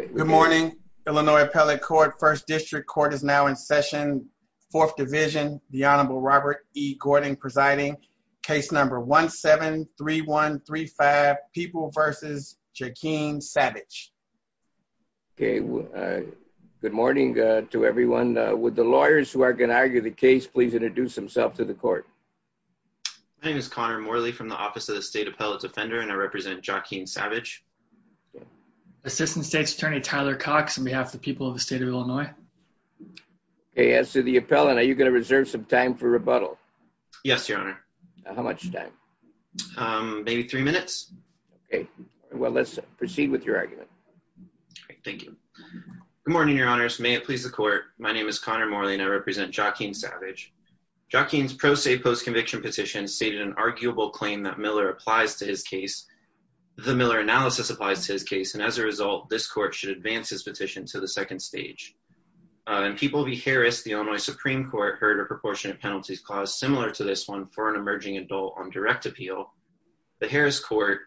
Good morning, Illinois Appellate Court. First District Court is now in session. Fourth Division, the Honorable Robert E. Gordon presiding. Case number 17-3135, People v. Joaquin Savage. Okay, good morning to everyone. Would the lawyers who are going to argue the case please introduce themselves to the court? My name is Connor Morley from the Office of the State Appellate Defender and I represent Joaquin Savage. Assistant States Attorney Tyler Cox on behalf of the people of the state of Illinois. Okay, as to the appellant, are you going to reserve some time for rebuttal? Yes, Your Honor. How much time? Maybe three minutes. Okay, well let's proceed with your argument. Okay, thank you. Good morning, Your Honors. May it please the court, my name is Connor Morley and I represent Joaquin Savage. Joaquin's pro se post-conviction petition stated an arguable claim that Miller analysis applies to his case and as a result, this court should advance his petition to the second stage. In People v. Harris, the Illinois Supreme Court heard a proportionate penalties clause similar to this one for an emerging adult on direct appeal. The Harris court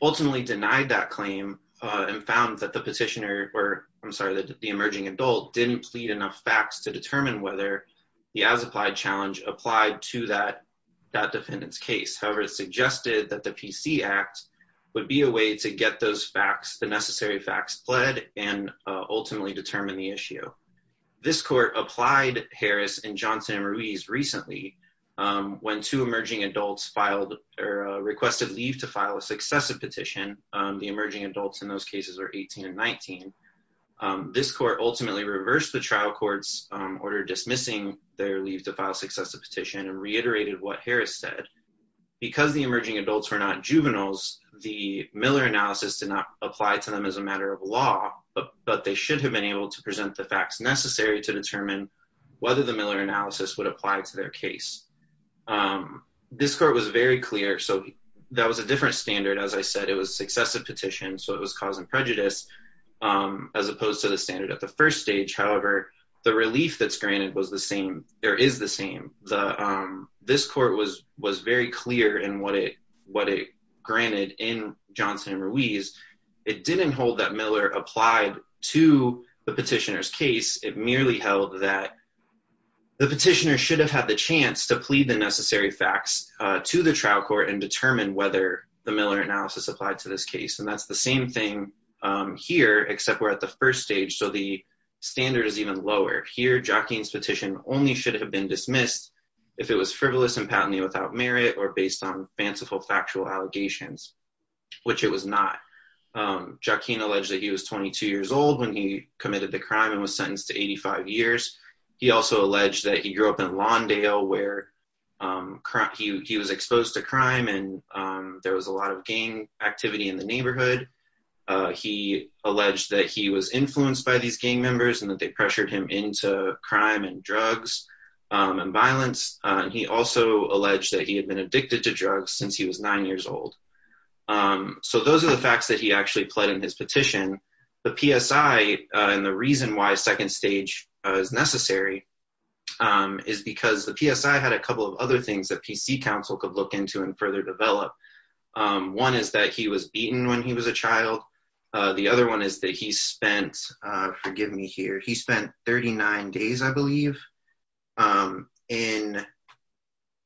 ultimately denied that claim and found that the petitioner, I'm sorry, the emerging adult didn't plead enough facts to determine whether the as-applied challenge applied to that defendant's case. However, it suggested that the PC Act would be a way to get those facts, the necessary facts, pled and ultimately determine the issue. This court applied Harris and Johnson and Ruiz recently when two emerging adults filed or requested leave to file a successive petition. The emerging adults in those cases are 18 and 19. This court ultimately reversed the trial court's order dismissing their leave to file successive petition and reiterated what Harris said. Because the emerging adults were not juveniles, the Miller analysis did not apply to them as a matter of law, but they should have been able to present the facts necessary to determine whether the Miller analysis would apply to their case. This court was very clear, so that was a different standard. As I said, it was a successive petition, so it was cause and prejudice as opposed to the standard at the first stage. However, the relief that's granted was the same, there is the same. This court was very clear in what it granted in Johnson and Ruiz. It didn't hold that Miller applied to the petitioner's case. It merely held that the petitioner should have had the chance to plead the necessary facts to the trial court and determine whether the Miller analysis applied to this case. And that's the same thing here, except we're at the first stage, so the standard is even lower. Here, Joaquin's petition only should have been dismissed if it was frivolous and patently without merit or based on fanciful factual allegations, which it was not. Joaquin alleged that he was 22 years old when he committed the crime and was sentenced to 85 years. He also alleged that he grew up in Lawndale where he was exposed to crime and there was a lot of gang activity in the neighborhood. He alleged that he was influenced by these gang members and that they pressured him into crime and drugs and violence. He also alleged that he had been addicted to drugs since he was nine years old. So those are the facts that he actually pled in his petition. The PSI and the reason why second stage is necessary is because the PSI had a couple of other things that PC counsel could look into and further develop. One is that he was beaten when he was a child. The other one is that he spent, forgive me here, he spent 39 days, I believe,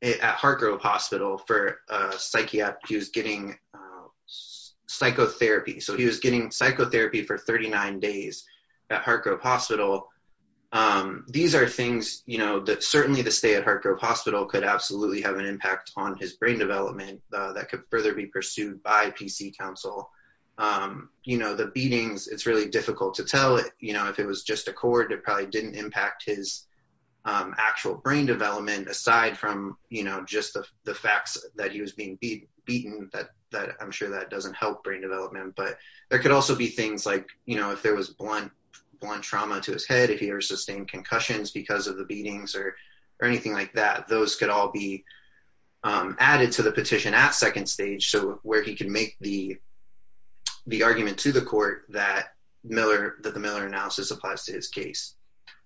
at Heartgrove Hospital for a psychiatric, he was getting psychotherapy. So he was getting psychotherapy for 39 days at Heartgrove Hospital. These are things, you know, that certainly the stay at Heartgrove Hospital could absolutely have an impact on his further be pursued by PC counsel. You know, the beatings, it's really difficult to tell, you know, if it was just a cord, it probably didn't impact his actual brain development, aside from, you know, just the facts that he was being beaten, that I'm sure that doesn't help brain development. But there could also be things like, you know, if there was blunt trauma to his head, if he ever sustained concussions because of the beatings or anything like that, those could all be added to the petition at second stage. So where he can make the argument to the court that the Miller analysis applies to his case.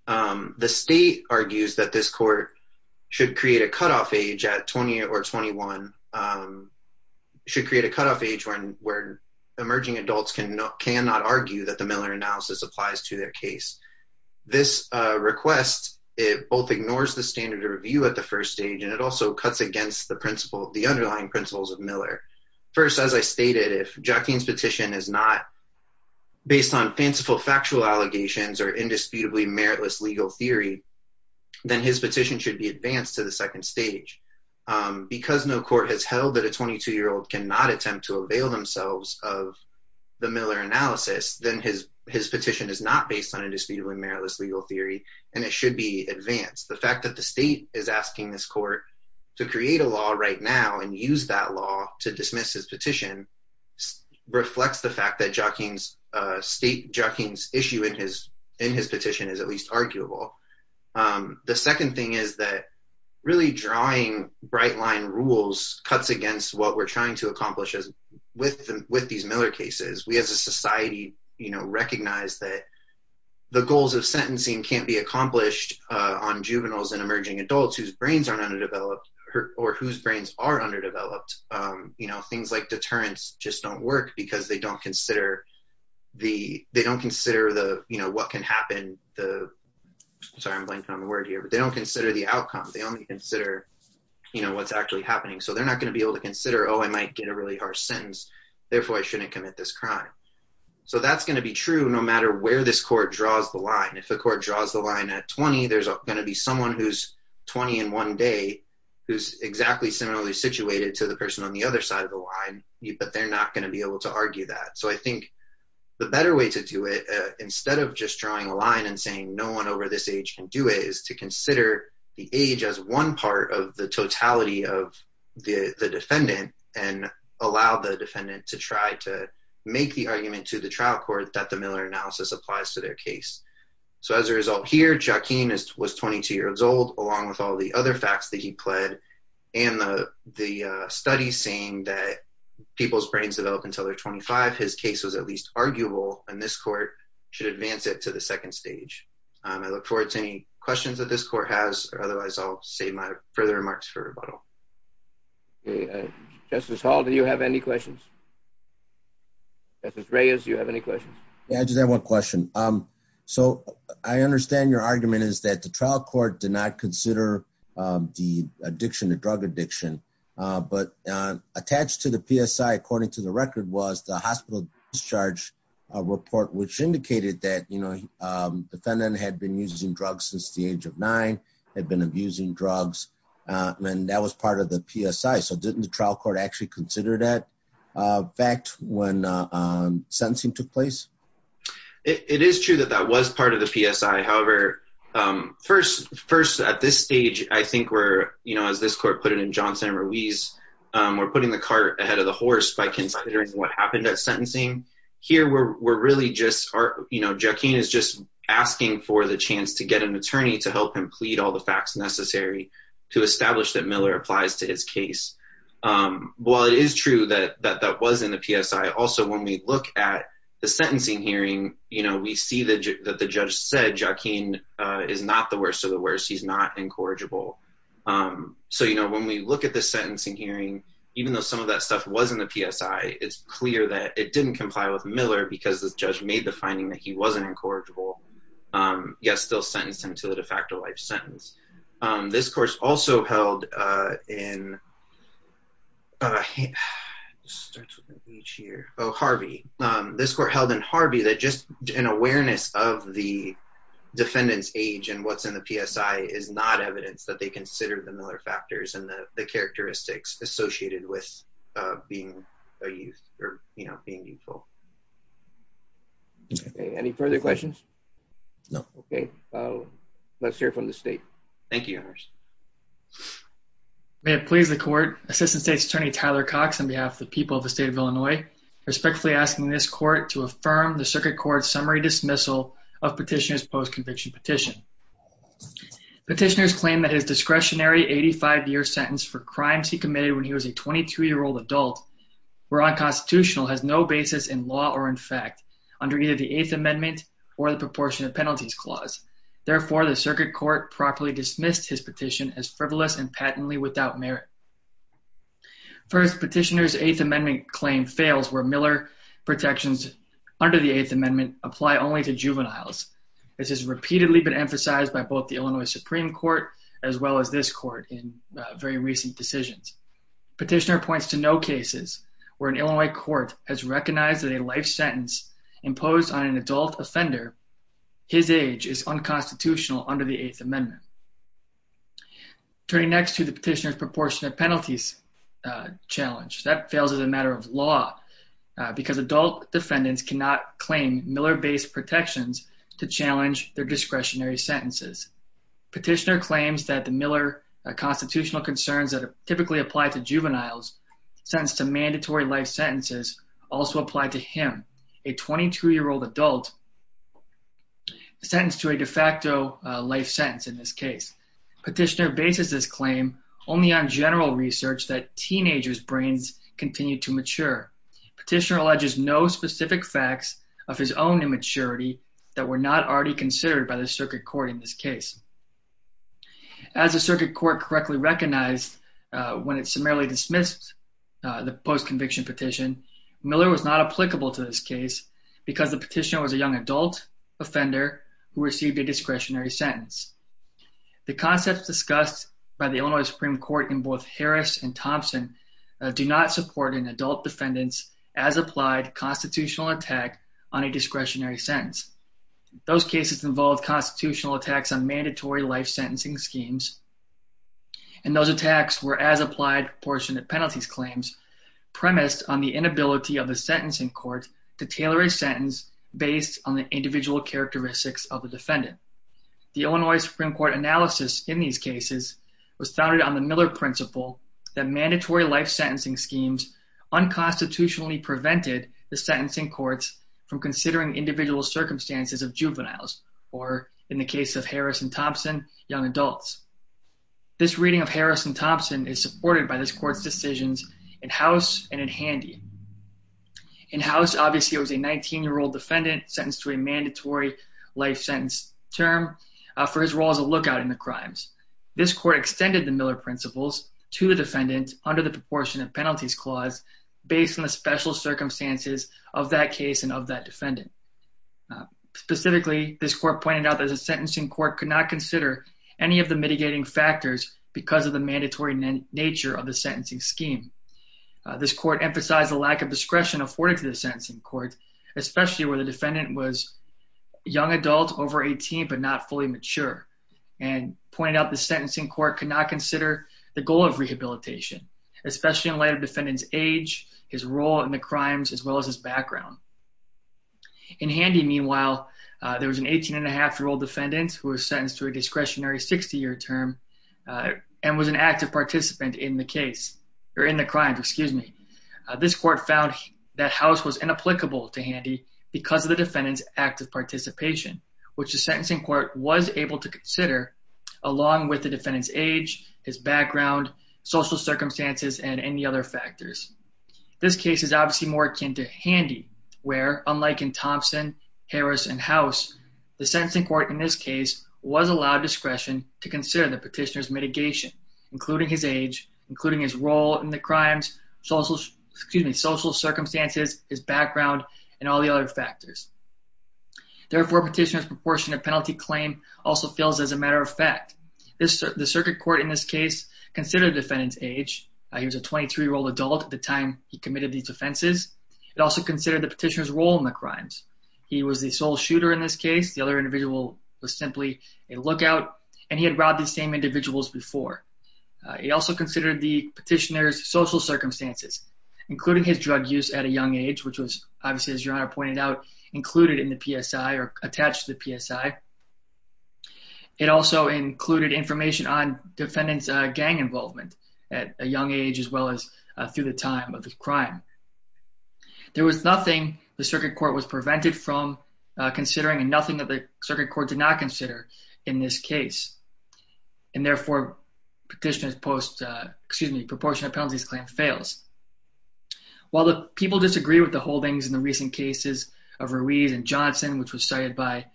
The state argues that this court should create a cutoff age at 20 or 21, should create a cutoff age where emerging adults cannot argue that the Miller analysis applies to their case. This request, it both ignores the standard of review at the first stage, and it also cuts against the underlying principles of Miller. First, as I stated, if Joaquin's petition is not based on fanciful factual allegations or indisputably meritless legal theory, then his petition should be advanced to the second stage. Because no court has held that a 22-year-old cannot attempt to avail themselves of the Miller analysis, then his meritless legal theory, and it should be advanced. The fact that the state is asking this court to create a law right now and use that law to dismiss his petition reflects the fact that state Joaquin's issue in his petition is at least arguable. The second thing is that really drawing bright line rules cuts against what we're trying to accomplish with these Miller cases. We as a society recognize that the goals of sentencing can't be accomplished on juveniles and emerging adults whose brains aren't underdeveloped or whose brains are underdeveloped. Things like deterrents just don't work because they don't consider what can happen. Sorry, I'm blanking on the word here, but they don't consider the outcome. They only consider what's actually happening. So they're not going to be able to consider, oh, I might get a really harsh sentence. Therefore, I shouldn't commit this crime. So that's going to be true no matter where this court draws the line. If the court draws the line at 20, there's going to be someone who's 20 in one day who's exactly similarly situated to the person on the other side of the line, but they're not going to be able to argue that. So I think the better way to do it, instead of just drawing a line and saying no one over this can do it, is to consider the age as one part of the totality of the defendant and allow the defendant to try to make the argument to the trial court that the Miller analysis applies to their case. So as a result here, Joaquin was 22 years old, along with all the other facts that he pled and the studies saying that people's brains develop until they're 25. His case was at least 22 years old. So I'm going to turn it over to any questions that this court has. Otherwise, I'll save my further remarks for rebuttal. Justice Hall, do you have any questions? Justice Reyes, do you have any questions? Yeah, I just have one question. So I understand your argument is that the trial court did not consider the addiction to drug addiction, but attached to the PSI, according to the record, was the hospital discharge report, which indicated that the defendant had been using drugs since the age of nine, had been abusing drugs, and that was part of the PSI. So didn't the trial court actually consider that fact when sentencing took place? It is true that that was part of the PSI. However, first, at this stage, I think we're, as this court put it in Johnson and Ruiz, we're putting the cart ahead of the horse by considering what happened at sentencing. Here, we're really just, you know, Joaquin is just asking for the chance to get an attorney to help him plead all the facts necessary to establish that Miller applies to his case. While it is true that that was in the PSI, also, when we look at the sentencing hearing, you know, we see that the judge said Joaquin is not the worst of the worst. He's not incorrigible. So, you know, when we look at the sentencing hearing, even though some of that stuff was in the PSI, it's clear that it didn't comply with Miller because the judge made the finding that he wasn't incorrigible. Yes, still sentenced him to the de facto life sentence. This course also held in, oh, Harvey. This court held in Harvey that just an awareness of the defendant's age and what's in the PSI is not evidence that they consider the Miller factors and the characteristics associated with being a youth or, you know, being youthful. Okay. Any further questions? No. Okay. Let's hear from the state. Thank you. May it please the court. Assistant State's Attorney Tyler Cox on behalf of the people of the state of Illinois, respectfully asking this court to affirm the circuit court's summary dismissal of petitioner's post-conviction petition. Petitioners claim that his discretionary 85-year sentence for crimes he committed when he was a 22-year-old adult were unconstitutional, has no basis in law or in fact under either the eighth amendment or the proportion of penalties clause. Therefore the circuit court properly dismissed his petition as frivolous and patently without merit. First petitioner's eighth amendment claim fails where Miller protections under the eighth amendment apply only to juveniles. This has repeatedly been emphasized by both the Illinois Supreme Court as well as this court in very recent decisions. Petitioner points to no cases where an Illinois court has recognized that a life sentence imposed on an adult offender, his age, is unconstitutional under the eighth amendment. Turning next to the petitioner's proportionate penalties challenge, that fails as a matter of law because adult defendants cannot claim Miller-based protections to challenge their petitioner claims that the Miller constitutional concerns that typically apply to juveniles sentenced to mandatory life sentences also apply to him, a 22-year-old adult, sentenced to a de facto life sentence in this case. Petitioner bases this claim only on general research that teenagers brains continue to mature. Petitioner alleges no specific facts of his own immaturity that were not already considered by the circuit court in this case. As the circuit court correctly recognized when it summarily dismissed the post-conviction petition, Miller was not applicable to this case because the petitioner was a young adult offender who received a discretionary sentence. The concepts discussed by the Illinois Supreme Court in both Harris and Thompson do not support an adult defendant's as applied constitutional attack on a discretionary sentence. Those cases involve constitutional attacks on mandatory life sentencing schemes, and those attacks were, as applied proportionate penalties claims, premised on the inability of the sentencing court to tailor a sentence based on the individual characteristics of the defendant. The Illinois Supreme Court analysis in these cases was founded on the Miller principle that mandatory life sentencing schemes unconstitutionally prevented the sentencing courts from considering individual circumstances of juveniles, or in the young adults. This reading of Harris and Thompson is supported by this court's decisions in house and in handy. In house, obviously, it was a 19-year-old defendant sentenced to a mandatory life sentence term for his role as a lookout in the crimes. This court extended the Miller principles to the defendant under the proportionate penalties clause based on the special circumstances of that case and of that defendant. Specifically, this court pointed out that the sentencing court could not consider any of the mitigating factors because of the mandatory nature of the sentencing scheme. This court emphasized the lack of discretion afforded to the sentencing court, especially where the defendant was a young adult over 18 but not fully mature, and pointed out the sentencing court could not consider the goal of rehabilitation, especially in light of defendant's age, his role in the crimes, as well as his background. In handy, meanwhile, there was an 18-and-a-half-year-old defendant who was sentenced to a discretionary 60-year term and was an active participant in the case, or in the crime, excuse me. This court found that house was inapplicable to handy because of the defendant's active participation, which the sentencing court was able to consider along with the defendant's age, his background, social circumstances, and any other factors. This case is obviously more akin to handy where, unlike in Thompson, Harris, and house, the sentencing court in this case was allowed discretion to consider the petitioner's mitigation, including his age, including his role in the crimes, social, excuse me, social circumstances, his background, and all the other factors. Therefore, petitioner's proportionate penalty claim also fails as a matter of fact. The circuit court in this case considered defendant's age. He was a 23-year-old adult at the time he committed these offenses. It also considered the petitioner's crimes. He was the sole shooter in this case. The other individual was simply a lookout, and he had robbed the same individuals before. He also considered the petitioner's social circumstances, including his drug use at a young age, which was obviously, as your honor pointed out, included in the PSI or attached to the PSI. It also included information on defendant's gang involvement at a young age, as well as through the time of the crime. There was nothing the circuit court was prevented from considering and nothing that the circuit court did not consider in this case, and therefore, petitioner's post, excuse me, proportionate penalties claim fails. While the people disagree with the holdings in the recent cases of Ruiz and Johnson, which was cited by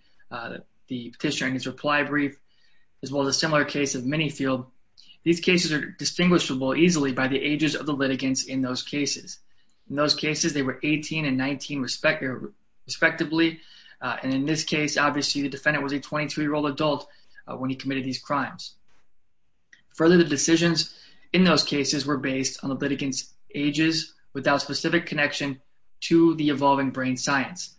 the petitioner in his reply brief, as well as a similar case of Minifield, these cases are distinguishable easily by the ages of the litigants in those cases. In those cases, they were 18 and 19 respectively, and in this case, obviously, the defendant was a 22-year-old adult when he committed these crimes. Further, the decisions in those cases were based on the litigants' ages without specific connection to the evolving brain science.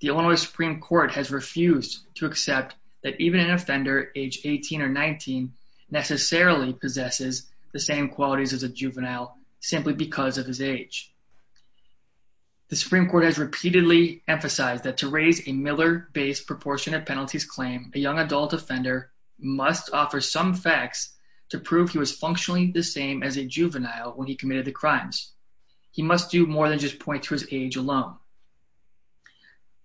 The Illinois Supreme Court has refused to accept that even an offender age 18 or 19 necessarily possesses the same qualities as a juvenile. The Illinois Supreme Court has repeatedly emphasized that to raise a Miller-based proportionate penalties claim, a young adult offender must offer some facts to prove he was functionally the same as a juvenile when he committed the crimes. He must do more than just point to his age alone.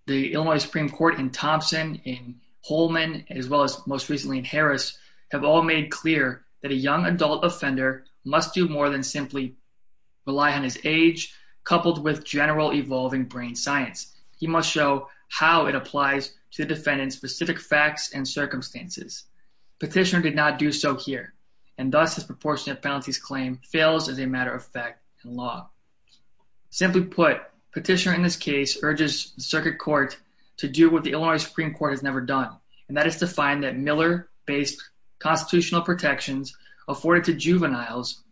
The Illinois Supreme Court in Thompson, in Holman, as well as most recently in Harris, have all made clear that a young adult offender must do more than simply rely on his age, coupled with general evolving brain science. He must show how it applies to the defendant's specific facts and circumstances. Petitioner did not do so here, and thus his proportionate penalties claim fails as a matter of fact and law. Simply put, petitioner in this case urges the circuit court to do what the Illinois Supreme Court has never done, and that is to find that Miller-based constitutional protections afforded to juveniles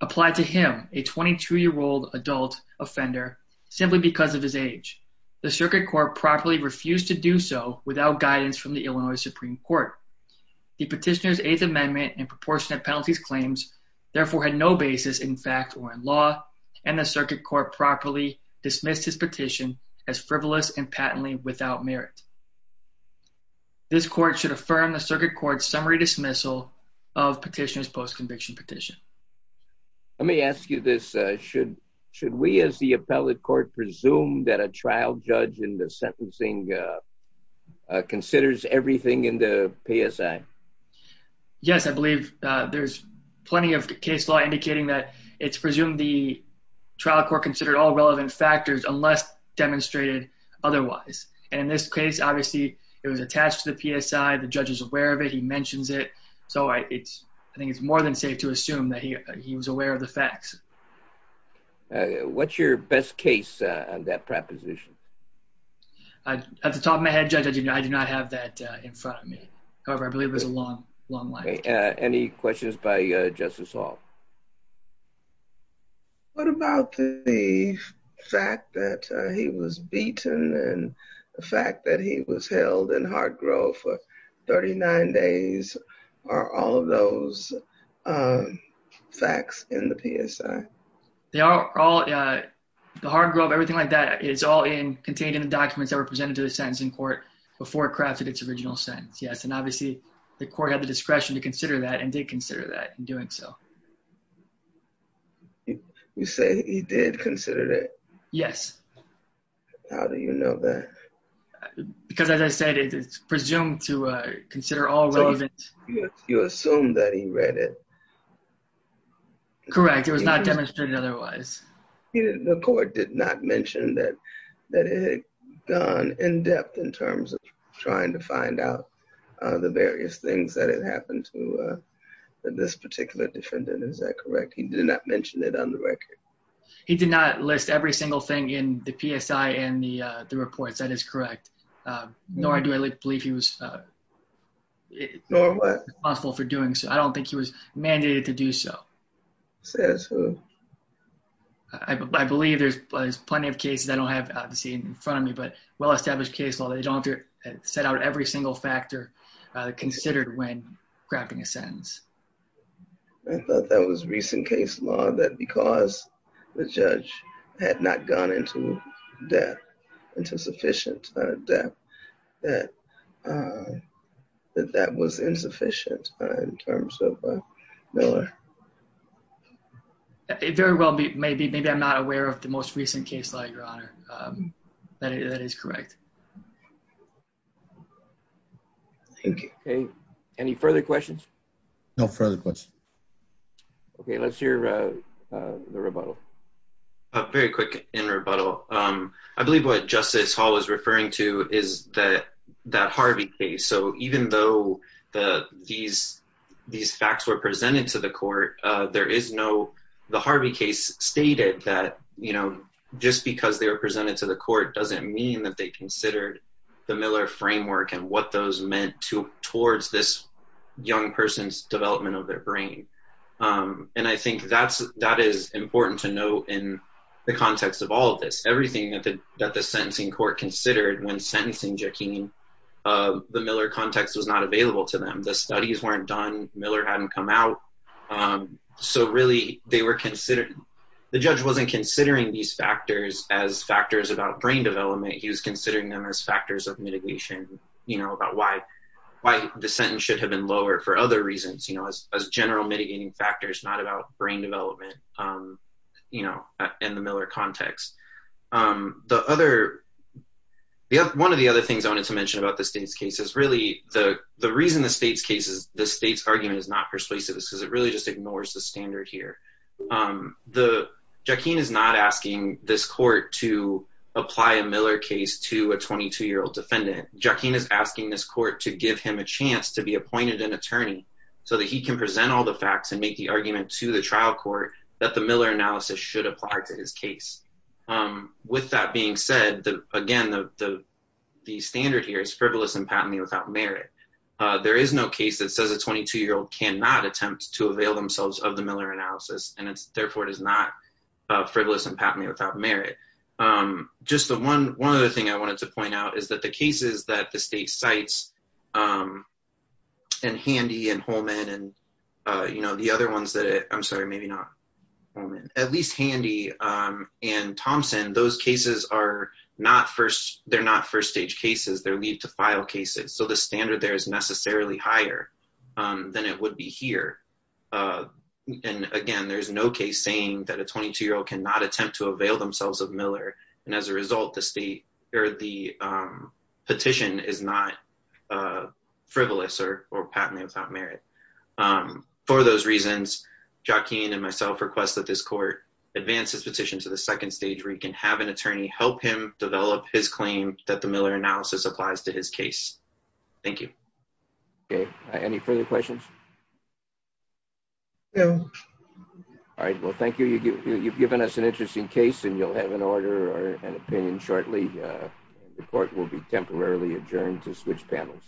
apply to him, a 22-year-old adult offender, simply because of his age. The circuit court properly refused to do so without guidance from the Illinois Supreme Court. The petitioner's eighth amendment and proportionate penalties claims therefore had no basis in fact or in law, and the circuit court properly dismissed his petition as frivolous and patently without merit. This court should affirm the circuit court's summary dismissal of petitioner's post-conviction petition. Let me ask you this, should we as the appellate court presume that a trial judge in the sentencing considers everything in the PSI? Yes, I believe there's plenty of case law indicating that it's presumed the trial court considered all relevant factors unless demonstrated otherwise, and in this case obviously it was attached to the PSI, the judge is aware of it, he mentions it, so I think it's more than safe to assume that he was aware of the facts. What's your best case on that proposition? At the top of my head, Judge, I do not have that in front of me, however I believe there's a long, long line. Any questions by Justice Hall? What about the fact that he was beaten and the fact that he was held in hard grove for 39 days are all of those facts in the PSI? They are all, the hard grove, everything like that is all in, contained in the documents that were presented to the sentencing court before it crafted its original sentence, yes, and obviously the court had the discretion to consider that and did consider that in doing so. You say he did consider it? Yes. How do you know that? Because as I said, it's presumed to consider all relevant. You assume that he read it? Correct, it was not demonstrated otherwise. The court did not mention that it had gone in depth in terms of trying to find out the various things that had happened to this particular defendant, is that correct? He did not mention it on the record. He did not list every single thing in the PSI and the reports, that is correct, nor do I believe he was responsible for doing so. I don't think he was mandated to do so. Says who? I believe there's plenty of cases I don't have out to see in front of me, but well-established case law, they don't have to set out every single factor considered when crafting a sentence. I thought that was recent case law, that because the judge had not gone into depth, into sufficient depth, that that was insufficient in terms of Miller. Very well, maybe I'm not aware of the most recent case law, your honor, that is correct. Okay, any further questions? No further questions. Okay, let's hear the rebuttal. Very quick in rebuttal. I believe what Justice Hall is referring to is that Harvey case, so even though these facts were presented to the court, there is no, the Harvey case stated that, you know, just because they were presented to the court doesn't mean that they considered the Miller framework and what those meant towards this young person's development of their brain, and I think that is important to note in the context of all of this. Everything that the sentencing court considered when sentencing Jaqueen, the Miller context was not available to them. The studies weren't done, Miller hadn't come out, so really they were considered, the judge wasn't considering these factors as factors about brain development, he was considering them as factors of mitigation, you know, about why the sentence should have been lowered for other reasons, you know, as general mitigating factors, not about brain development, you know, in the Miller context. The other, one of the other things I wanted to mention about the state's case is really the reason the state's case is, the state's argument is not persuasive is because really just ignores the standard here. The, Jaqueen is not asking this court to apply a Miller case to a 22-year-old defendant. Jaqueen is asking this court to give him a chance to be appointed an attorney so that he can present all the facts and make the argument to the trial court that the Miller analysis should apply to his case. With that being said, again, the standard here is frivolous and patently without merit. There is no case that says a 22-year-old cannot attempt to avail themselves of the Miller analysis and it's therefore does not frivolous and patently without merit. Just the one, one other thing I wanted to point out is that the cases that the state cites and Handy and Holman and, you know, the other ones that, I'm sorry, maybe not Holman, at least Handy and Thompson, those cases are not first, they're not first stage cases, they're leave to file cases. So the standard there is necessarily higher than it would be here. And again, there's no case saying that a 22-year-old cannot attempt to avail themselves of Miller. And as a result, the state or the petition is not frivolous or patently without merit. For those reasons, Jaqueen and myself request that this court advance his petition to the second stage where he can have an attorney help him develop his claim that the Miller analysis applies to his case. Thank you. Okay. Any further questions? No. All right. Well, thank you. You've given us an interesting case and you'll have an order or an opinion shortly. Report will be temporarily adjourned to switch panels.